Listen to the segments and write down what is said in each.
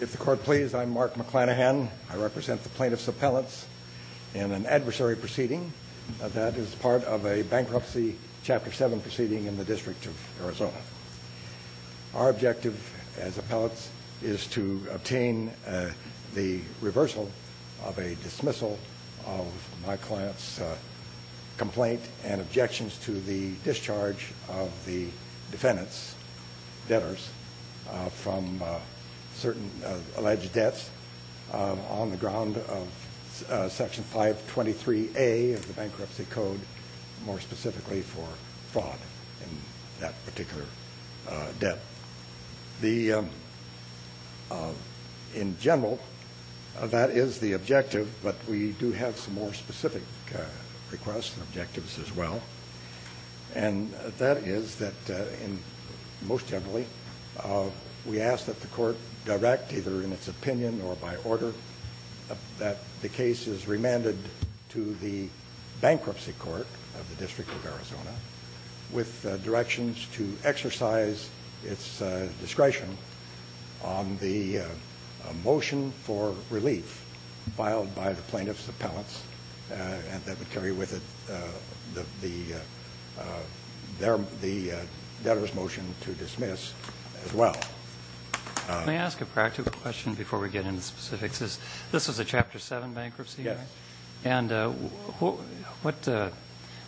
If the court please, I'm Mark McClanahan. I represent the plaintiff's appellants in an adversary proceeding that is part of a Bankruptcy Chapter 7 proceeding in the District of Arizona. Our objective as appellants is to obtain the reversal of a dismissal of my client's complaint and objections to the discharge of the defendant's debtors from certain alleged debts on the ground of Section 523A of the Bankruptcy Code, more specifically for fraud in that particular debt. In general, that is the objective, but we do have some more specific requests and requests as well, and that is that most generally, we ask that the court direct either in its opinion or by order that the case is remanded to the Bankruptcy Court of the District of Arizona with directions to exercise its discretion on the motion for relief filed by the plaintiff's appellants, and that would carry with it the debtor's motion to dismiss as well. Can I ask a practical question before we get into specifics? This was a Chapter 7 bankruptcy, right? Yes. And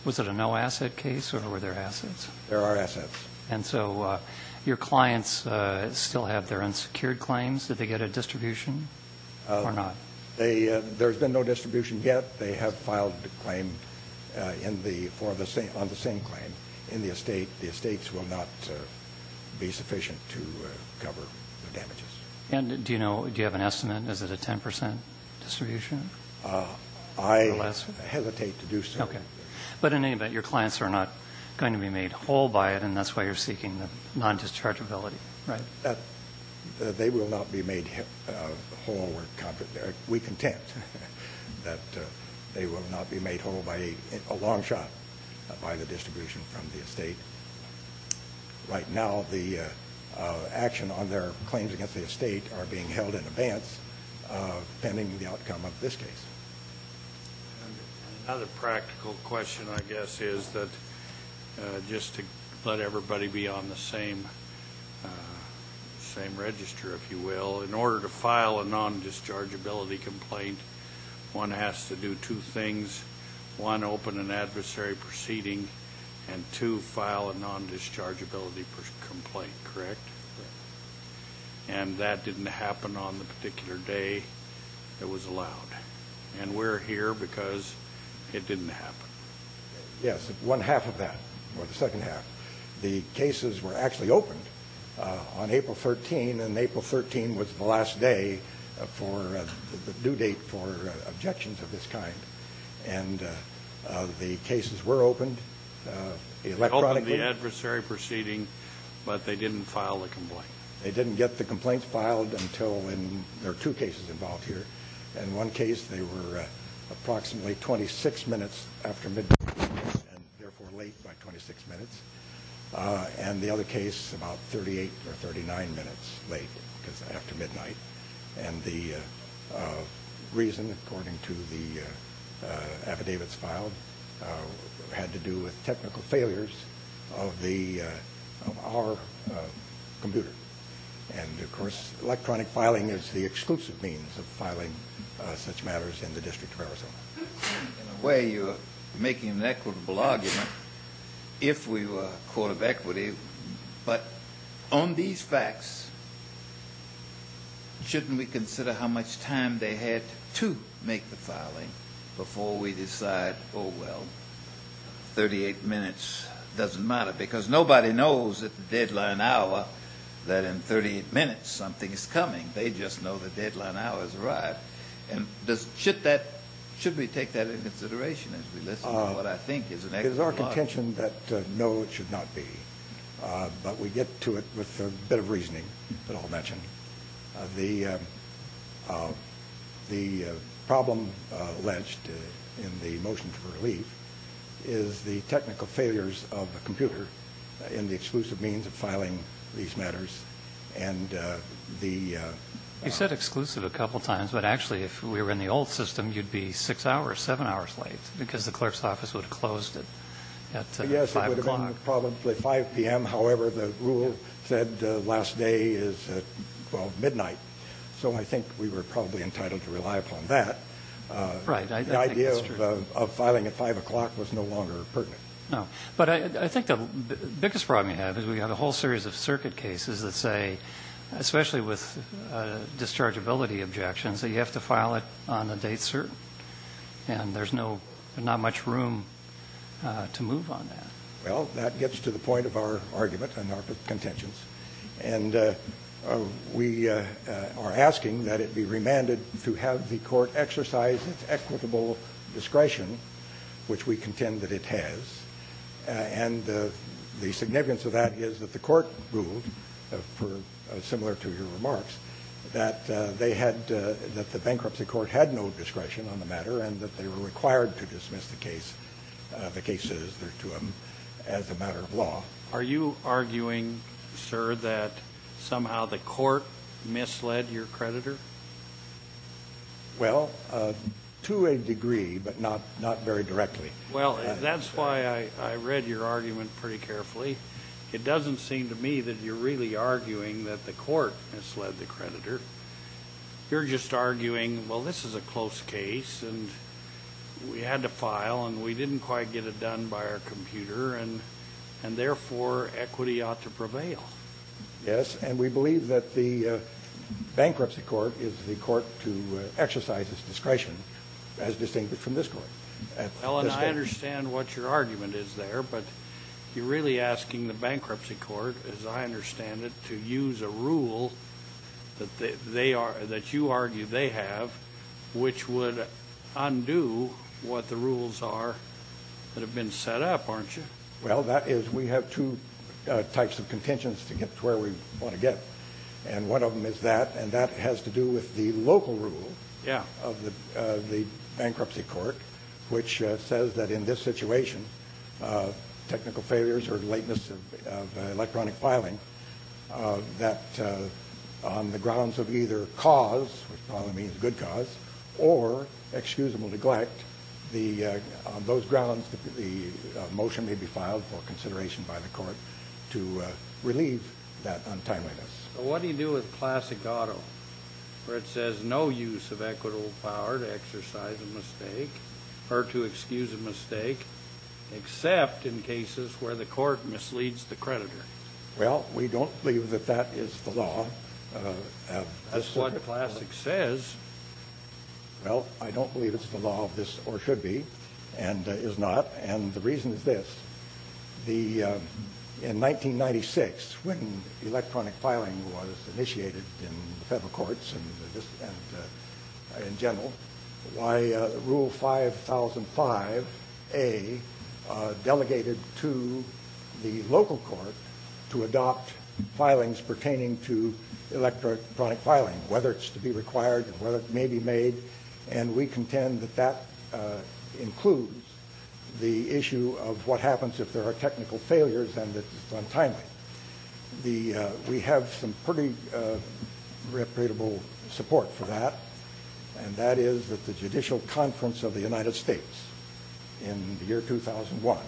was it a no-asset case, or were there assets? There are assets. And so your clients still have their unsecured claims? Did they get a distribution or not? There's been no distribution yet. They have filed a claim on the same claim in the estate. The estates will not be sufficient to cover the damages. And do you have an estimate? Is it a 10 percent distribution? I hesitate to do so. Okay. But in any event, your clients are not going to be made whole by it, and that's why you're seeking the non-dischargeability, right? They will not be made whole. We're content that they will not be made whole by a long shot by the distribution from the estate. Right now, the action on their claims against the estate are being held in advance pending the outcome of this case. Another practical question, I guess, is that just to let everybody be on the same register, if you will, in order to file a non-dischargeability complaint, one has to do two things. One, open an adversary proceeding, and two, file a non-dischargeability complaint, correct? Correct. And that didn't happen on the particular day it was allowed. And we're here because it didn't happen. Yes, one half of that, or the second half. The cases were actually opened on April 13, and April 13 was the last day for the due date for objections of this kind. And the cases were opened electronically. They opened the adversary proceeding, but they didn't file the complaint. They didn't get the complaint filed until when there are two cases involved here. In one case, they were approximately 26 minutes after midnight, and therefore late by 26 minutes. And the other case, about 38 or 39 minutes late, because after midnight. And the reason, according to the affidavits filed, had to do with technical failures of our computer. And, of course, electronic filing is the exclusive means of filing such matters in the District of Arizona. In a way, you're making an equitable argument if we were a court of equity. But on these facts, shouldn't we consider how much time they had to make the filing before we decide, oh, well, 38 minutes doesn't matter? Because nobody knows at the deadline hour that in 38 minutes something is coming. They just know the deadline hour is right. And should we take that into consideration as we listen to what I think is an equitable argument? It is our contention that no, it should not be. But we get to it with a bit of reasoning that I'll mention. The problem alleged in the motion for relief is the technical failures of the computer in the exclusive means of filing these matters. And the ‑‑ You said exclusive a couple times, but actually if we were in the old system, you'd be six hours, seven hours late, because the clerk's office would have closed at 5 o'clock. Probably 5 p.m. However, the rule said last day is at midnight. So I think we were probably entitled to rely upon that. Right. The idea of filing at 5 o'clock was no longer pertinent. No. But I think the biggest problem you have is we have a whole series of circuit cases that say, especially with dischargeability objections, that you have to file it on a date certain. And there's not much room to move on that. Well, that gets to the point of our argument and our contentions. And we are asking that it be remanded to have the court exercise its equitable discretion, which we contend that it has. And the significance of that is that the court ruled, similar to your remarks, that they had ‑‑ that the bankruptcy court had no discretion on the matter and that they were required to dismiss the case, the cases that are to them, as a matter of law. Are you arguing, sir, that somehow the court misled your creditor? Well, to a degree, but not very directly. Well, that's why I read your argument pretty carefully. It doesn't seem to me that you're really arguing that the court misled the creditor. You're just arguing, well, this is a close case, and we had to file, and we didn't quite get it done by our computer, and therefore equity ought to prevail. Yes, and we believe that the bankruptcy court is the court to exercise its discretion, as distincted from this court. Ellen, I understand what your argument is there, but you're really asking the bankruptcy court, as I understand it, to use a rule that they are ‑‑ that you argue they have, which would undo what the rules are that have been set up, aren't you? Well, that is ‑‑ we have two types of contentions to get to where we want to get, and one of them is that, and that has to do with the local rule of the bankruptcy court, which says that in this situation, technical failures or lateness of electronic filing, that on the grounds of either cause, which probably means good cause, or excusable neglect, on those grounds the motion may be filed for consideration by the court to relieve that untimeliness. But what do you do with classic auto, where it says no use of equitable power to exercise a mistake, or to excuse a mistake, except in cases where the court misleads the creditor? Well, we don't believe that that is the law. That's what classic says. Well, I don't believe it's the law of this, or should be, and is not, and the reason is this. In 1996, when electronic filing was initiated in federal courts and in general, Rule 5005A delegated to the local court to adopt filings pertaining to electronic filing, whether it's to be required and whether it may be made, and we contend that that includes the issue of what happens if there are technical failures and that it's untimely. We have some pretty reputable support for that, and that is that the Judicial Conference of the United States in the year 2001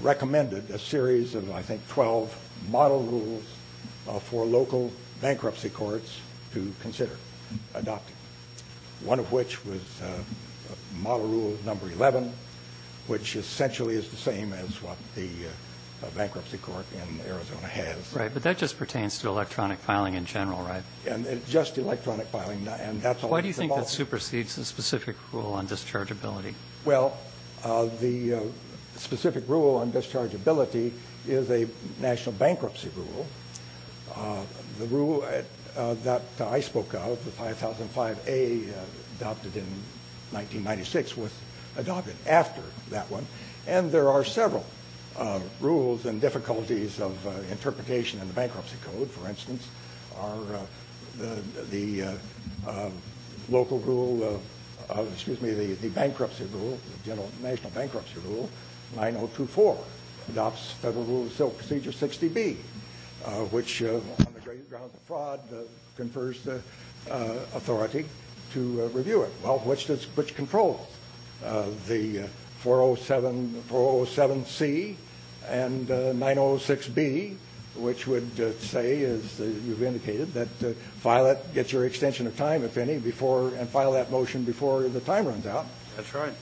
recommended a series of, I think, 12 model rules for local bankruptcy courts to consider adopting, one of which was model rule number 11, which essentially is the same as what the bankruptcy court in Arizona has. Right. But that just pertains to electronic filing in general, right? Just electronic filing. Why do you think that supersedes the specific rule on dischargeability? Well, the specific rule on dischargeability is a national bankruptcy rule. The rule that I spoke of, the 5005A adopted in 1996, was adopted after that one. And there are several rules and difficulties of interpretation in the bankruptcy code, for instance, are the local rule, excuse me, the bankruptcy rule, the national bankruptcy rule, 9024, adopts Federal Rule of Procedure 60B, which on the grounds of fraud confers the authority to review it. Well, which controls? The 407C and 906B, which would say, as you've indicated, that file it, get your extension of time, if any, and file that motion before the time runs out. That's right.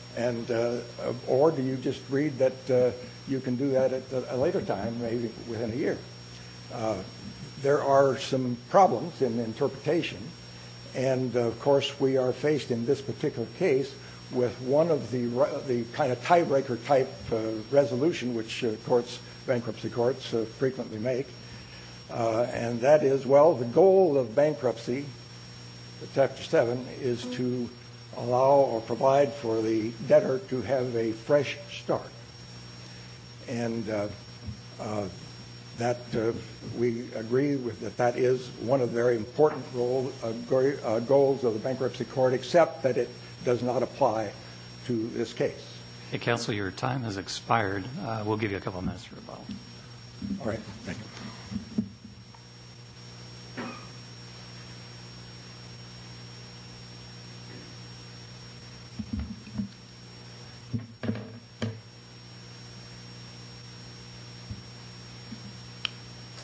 Or do you just read that you can do that at a later time, maybe within a year? There are some problems in interpretation. And, of course, we are faced in this particular case with one of the kind of tiebreaker type resolution, which bankruptcy courts frequently make. And that is, well, the goal of bankruptcy, Chapter 7, is to allow or provide for the debtor to have a fresh start. And we agree that that is one of the very important goals of the bankruptcy court, except that it does not apply to this case. Counsel, your time has expired. We'll give you a couple minutes for a vote. All right. Thank you.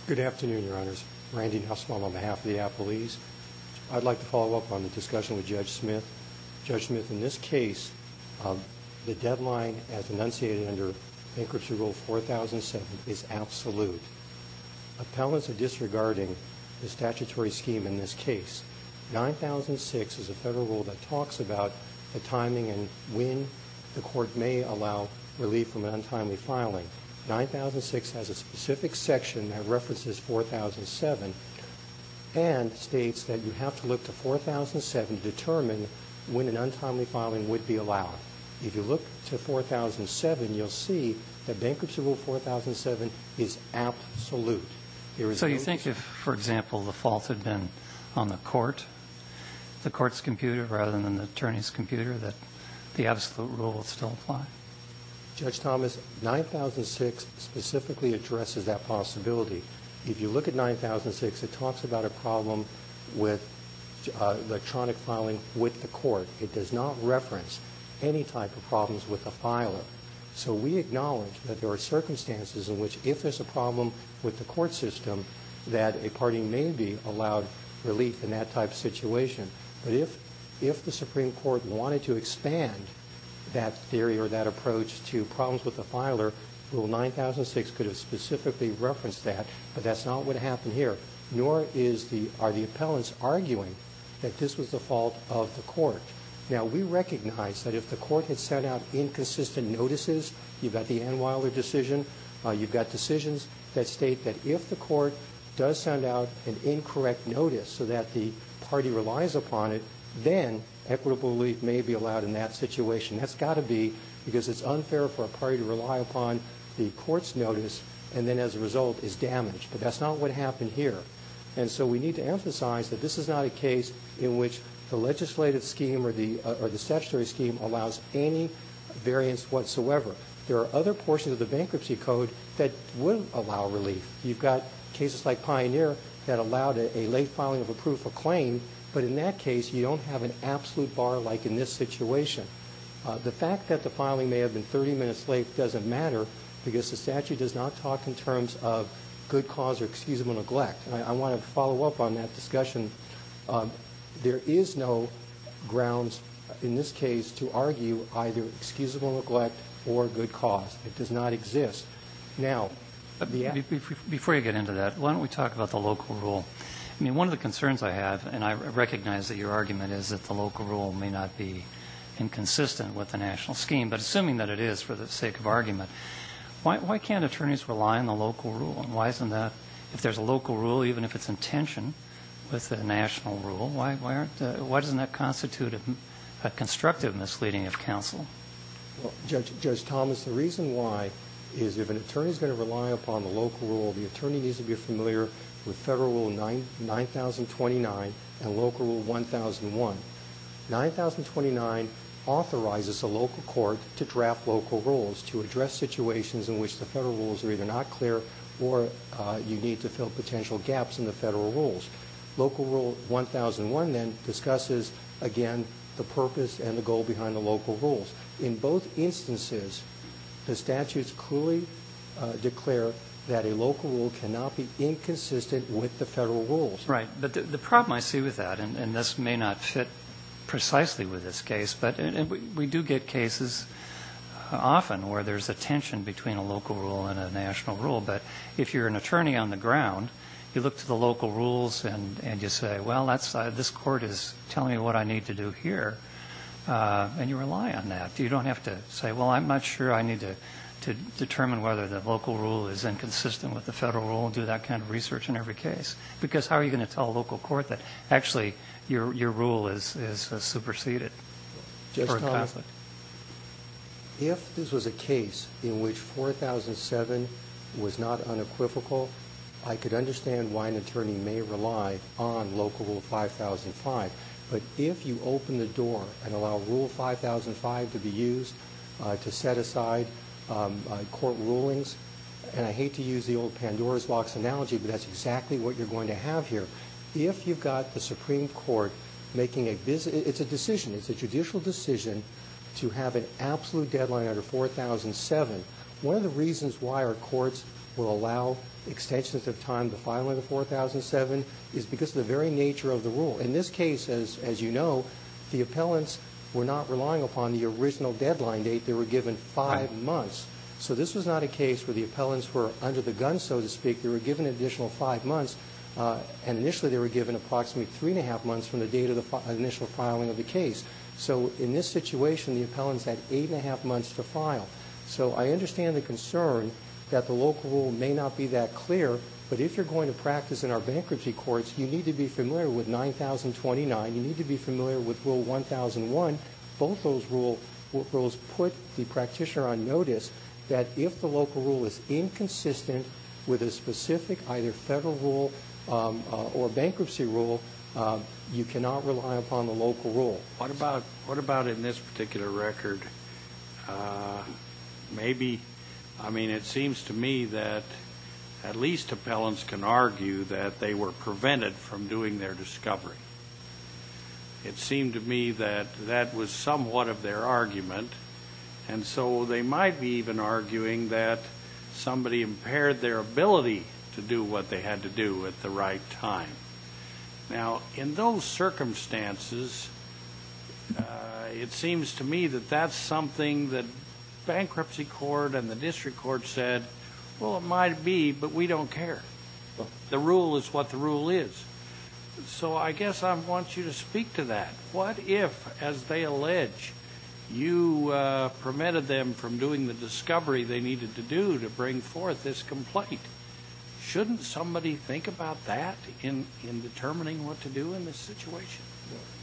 Good afternoon, Your Honors. Randy Nussbaum on behalf of the Appleese. I'd like to follow up on the discussion with Judge Smith. Judge Smith, in this case, the deadline as enunciated under Bankruptcy Rule 4007 is absolute. Appellants are disregarding the statutory scheme in this case. 9006 is a federal rule that talks about the timing and when the court may allow relief from an untimely filing. 9006 has a specific section that references 4007 and states that you have to look to 4007 to determine when an untimely filing would be allowed. If you look to 4007, you'll see that Bankruptcy Rule 4007 is absolute. So you think if, for example, the fault had been on the court, the court's computer rather than the attorney's computer, that the absolute rule would still apply? Judge Thomas, 9006 specifically addresses that possibility. If you look at 9006, it talks about a problem with electronic filing with the court. It does not reference any type of problems with a filer. So we acknowledge that there are circumstances in which, if there's a problem with the court system, that a party may be allowed relief in that type of situation. But if the Supreme Court wanted to expand that theory or that approach to problems with the filer, Rule 9006 could have specifically referenced that, but that's not what happened here, nor are the appellants arguing that this was the fault of the court. Now, we recognize that if the court had sent out inconsistent notices, you've got the Ann Weiler decision, you've got decisions that state that if the court does send out an incorrect notice so that the party relies upon it, then equitable relief may be allowed in that situation. That's got to be because it's unfair for a party to rely upon the court's notice and then as a result is damaged, but that's not what happened here. And so we need to emphasize that this is not a case in which the legislative scheme or the statutory scheme allows any variance whatsoever. There are other portions of the bankruptcy code that will allow relief. You've got cases like Pioneer that allowed a late filing of a proof of claim, but in that case you don't have an absolute bar like in this situation. The fact that the filing may have been 30 minutes late doesn't matter because the statute does not talk in terms of good cause or excusable neglect. And I want to follow up on that discussion. There is no grounds in this case to argue either excusable neglect or good cause. It does not exist. Before you get into that, why don't we talk about the local rule? I mean, one of the concerns I have, and I recognize that your argument is that the local rule may not be inconsistent with the national scheme, but assuming that it is for the sake of argument, why can't attorneys rely on the local rule? And why isn't that, if there's a local rule, even if it's in tension with the national rule, why doesn't that constitute a constructive misleading of counsel? Judge Thomas, the reason why is if an attorney is going to rely upon the local rule, the attorney needs to be familiar with Federal Rule 9029 and Local Rule 1001. 9029 authorizes a local court to draft local rules to address situations in which the federal rules are either not clear or you need to fill potential gaps in the federal rules. Local Rule 1001 then discusses, again, the purpose and the goal behind the local rules. In both instances, the statutes clearly declare that a local rule cannot be inconsistent with the federal rules. Right, but the problem I see with that, and this may not fit precisely with this case, but we do get cases often where there's a tension between a local rule and a national rule, but if you're an attorney on the ground, you look to the local rules and you say, well, this court is telling me what I need to do here, and you rely on that. You don't have to say, well, I'm not sure I need to determine whether the local rule is inconsistent with the federal rule and do that kind of research in every case, because how are you going to tell a local court that actually your rule is superseded for a conflict? If this was a case in which 4007 was not unequivocal, I could understand why an attorney may rely on Local Rule 5005, but if you open the door and allow Rule 5005 to be used to set aside court rulings, and I hate to use the old Pandora's box analogy, but that's exactly what you're going to have here. If you've got the Supreme Court making a decision, it's a judicial decision, to have an absolute deadline under 4007, one of the reasons why our courts will allow extensions of time to file under 4007 is because of the very nature of the rule. In this case, as you know, the appellants were not relying upon the original deadline date. They were given five months. So this was not a case where the appellants were under the gun, so to speak. They were given an additional five months, and initially they were given approximately three and a half months from the date of the initial filing of the case. So in this situation, the appellants had eight and a half months to file. So I understand the concern that the Local Rule may not be that clear, but if you're going to practice in our bankruptcy courts, you need to be familiar with 9029. You need to be familiar with Rule 1001. In fact, both those rules put the practitioner on notice that if the Local Rule is inconsistent with a specific either Federal rule or bankruptcy rule, you cannot rely upon the Local Rule. What about in this particular record? Maybe, I mean, it seems to me that at least appellants can argue that they were prevented from doing their discovery. It seemed to me that that was somewhat of their argument, and so they might be even arguing that somebody impaired their ability to do what they had to do at the right time. Now, in those circumstances, it seems to me that that's something that bankruptcy court and the district court said, well, it might be, but we don't care. The rule is what the rule is. So I guess I want you to speak to that. What if, as they allege, you permitted them from doing the discovery they needed to do to bring forth this complaint? Shouldn't somebody think about that in determining what to do in this situation?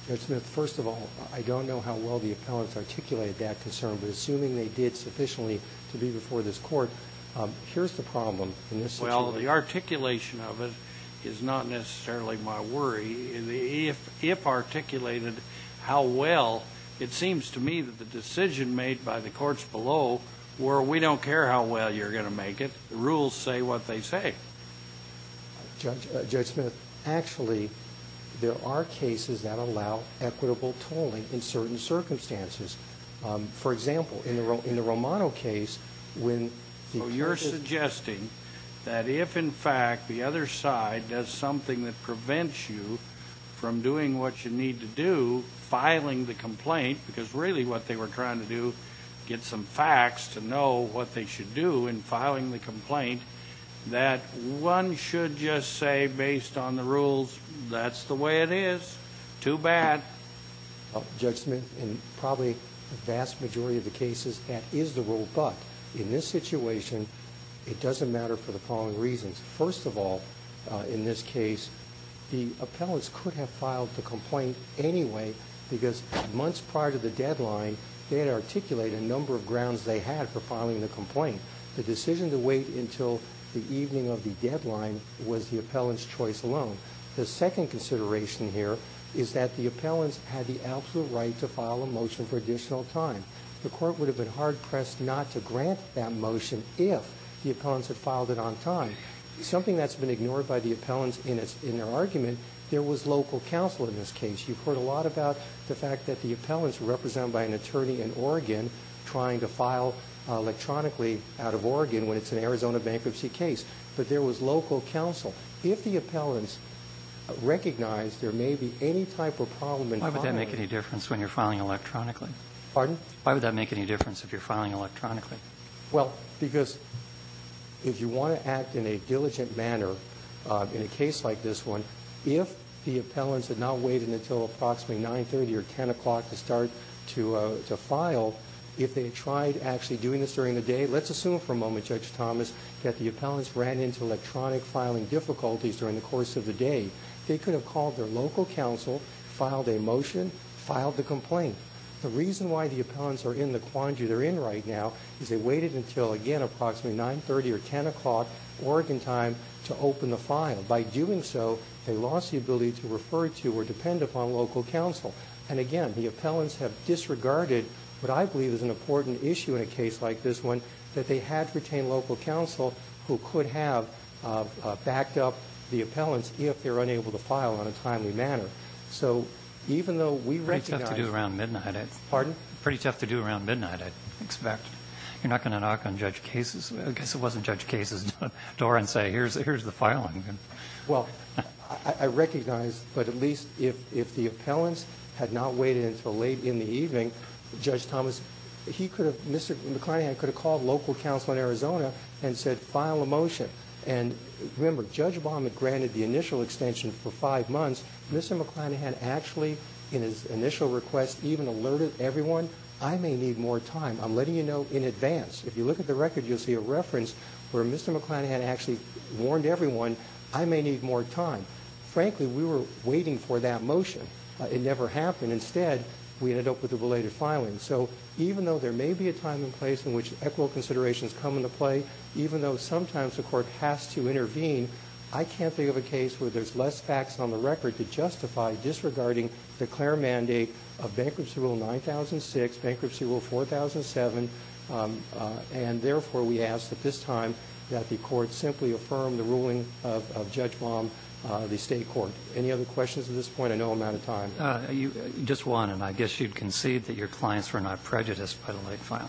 Judge Smith, first of all, I don't know how well the appellants articulated that concern, but assuming they did sufficiently to be before this Court, here's the problem in this situation. Well, the articulation of it is not necessarily my worry. If articulated how well, it seems to me that the decision made by the courts below were, we don't care how well you're going to make it. The rules say what they say. Judge Smith, actually, there are cases that allow equitable tolling in certain circumstances. For example, in the Romano case, when the case is- that if, in fact, the other side does something that prevents you from doing what you need to do, filing the complaint, because really what they were trying to do, get some facts to know what they should do in filing the complaint, that one should just say, based on the rules, that's the way it is. Too bad. Judge Smith, in probably the vast majority of the cases, that is the rule. But in this situation, it doesn't matter for the following reasons. First of all, in this case, the appellants could have filed the complaint anyway because months prior to the deadline, they had articulated a number of grounds they had for filing the complaint. The decision to wait until the evening of the deadline was the appellant's choice alone. The second consideration here is that the appellants had the absolute right to file a motion for additional time. The court would have been hard-pressed not to grant that motion if the appellants had filed it on time. Something that's been ignored by the appellants in their argument, there was local counsel in this case. You've heard a lot about the fact that the appellants were represented by an attorney in Oregon trying to file electronically out of Oregon when it's an Arizona bankruptcy case. But there was local counsel. If the appellants recognized there may be any type of problem in filing- Why would that make any difference when you're filing electronically? Pardon? Why would that make any difference if you're filing electronically? Well, because if you want to act in a diligent manner in a case like this one, if the appellants had not waited until approximately 9.30 or 10 o'clock to start to file, if they tried actually doing this during the day, let's assume for a moment, Judge Thomas, that the appellants ran into electronic filing difficulties during the course of the day, they could have called their local counsel, filed a motion, filed the complaint. The reason why the appellants are in the quandary they're in right now is they waited until, again, approximately 9.30 or 10 o'clock Oregon time to open the file. By doing so, they lost the ability to refer to or depend upon local counsel. And, again, the appellants have disregarded what I believe is an important issue in a case like this one, that they had to retain local counsel who could have backed up the appellants if they're unable to file on a timely manner. So even though we recognize- It's pretty tough to do around midnight. Pardon? Pretty tough to do around midnight, I'd expect. You're not going to knock on Judge Case's, I guess it wasn't Judge Case's, door and say, here's the filing. Well, I recognize, but at least if the appellants had not waited until late in the evening, Judge Thomas, he could have, Mr. McClanahan could have called local counsel in Arizona and said, file a motion. And remember, Judge Baum had granted the initial extension for five months. Mr. McClanahan actually, in his initial request, even alerted everyone, I may need more time. I'm letting you know in advance. If you look at the record, you'll see a reference where Mr. McClanahan actually warned everyone, I may need more time. Frankly, we were waiting for that motion. It never happened. Instead, we ended up with a belated filing. So even though there may be a time and place in which equitable considerations come into play, even though sometimes the Court has to intervene, I can't think of a case where there's less facts on the record to justify disregarding the Claire mandate of Bankruptcy Rule 9006, Bankruptcy Rule 4007. And therefore, we ask that this time that the Court simply affirm the ruling of Judge Baum, the State court. Any other questions at this point? I know I'm out of time. Just one, and I guess you'd concede that your clients were not prejudiced by the late filing.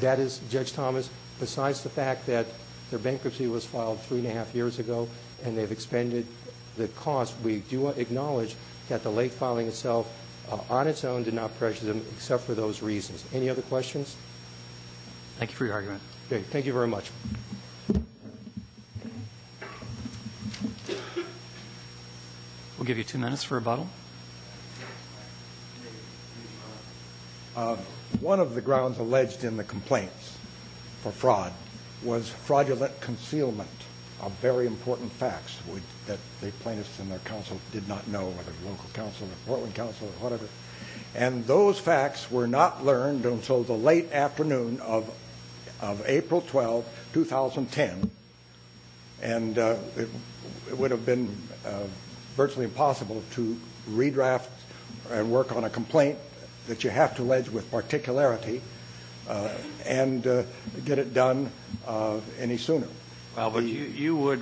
That is, Judge Thomas, besides the fact that their bankruptcy was filed three and a half years ago and they've expended the cost, we do acknowledge that the late filing itself on its own did not pressure them except for those reasons. Any other questions? Thank you for your argument. Okay. Thank you very much. We'll give you two minutes for rebuttal. One of the grounds alleged in the complaints for fraud was fraudulent concealment of very important facts that the plaintiffs and their counsel did not know, whether local counsel or Portland counsel or whatever. And those facts were not learned until the late afternoon of April 12, 2010. And it would have been virtually impossible to redraft and work on a complaint that you have to allege with particularity and get it done any sooner. Well, but you would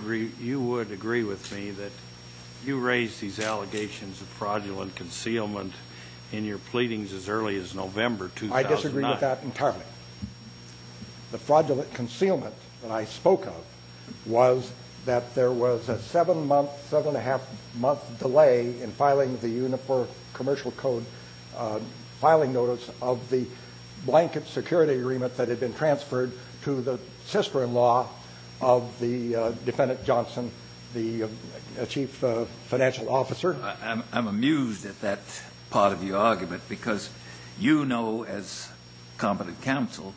agree with me that you raised these allegations of fraudulent concealment in your pleadings as early as November 2009. I disagree with that entirely. The fraudulent concealment that I spoke of was that there was a seven-month, seven-and-a-half month delay in filing the Uniform Commercial Code filing notice of the blanket security agreement that had been transferred to the sister-in-law of the defendant Johnson, the chief financial officer. I'm amused at that part of your argument, because you know as competent counsel,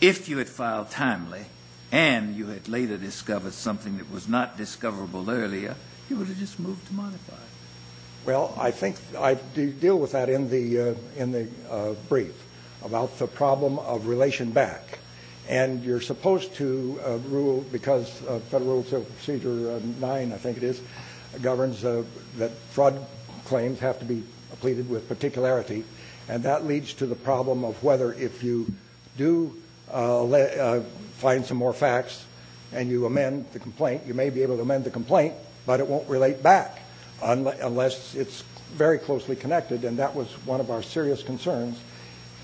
if you had filed timely and you had later discovered something that was not discoverable earlier, you would have just moved to modify it. Well, I think I deal with that in the brief, about the problem of relation back. And you're supposed to rule, because Federal Procedure 9, I think it is, governs that fraud claims have to be pleaded with particularity, and that leads to the problem of whether if you do find some more facts and you amend the complaint, you may be able to amend the complaint, but it won't relate back unless it's very closely connected. And that was one of our serious concerns.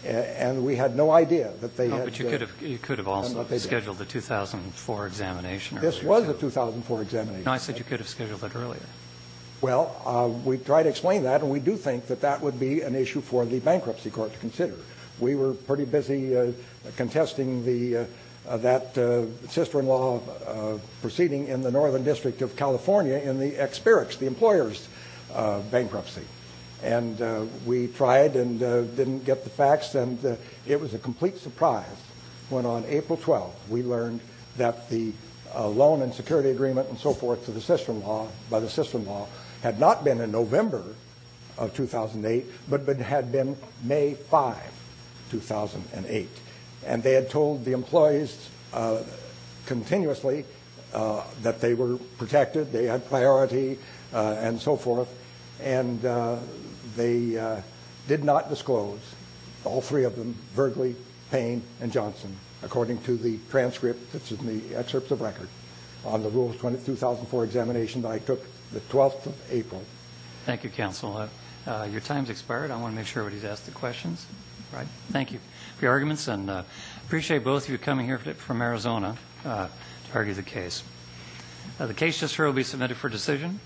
And we had no idea that they had to. But you could have also scheduled a 2004 examination earlier. This was a 2004 examination. No, I said you could have scheduled it earlier. Well, we tried to explain that, and we do think that that would be an issue for the Bankruptcy Court to consider. We were pretty busy contesting that sister-in-law proceeding in the Northern District of California in the expirix, the employer's bankruptcy. And we tried and didn't get the facts, and it was a complete surprise when on April 12th we learned that the loan and security agreement and so forth to the sister-in-law, by the sister-in-law, had not been in November of 2008, but had been May 5, 2008. And they had told the employees continuously that they were protected, they had priority, and so forth. And they did not disclose, all three of them, Vergley, Payne, and Johnson, according to the transcript that's in the excerpts of record on the rules 2004 examination that I took the 12th of April. Thank you, counsel. Your time's expired. I want to make sure everybody's asked their questions. Thank you. Thank you for your arguments, and I appreciate both of you coming here from Arizona to argue the case. The case just heard will be submitted for decision.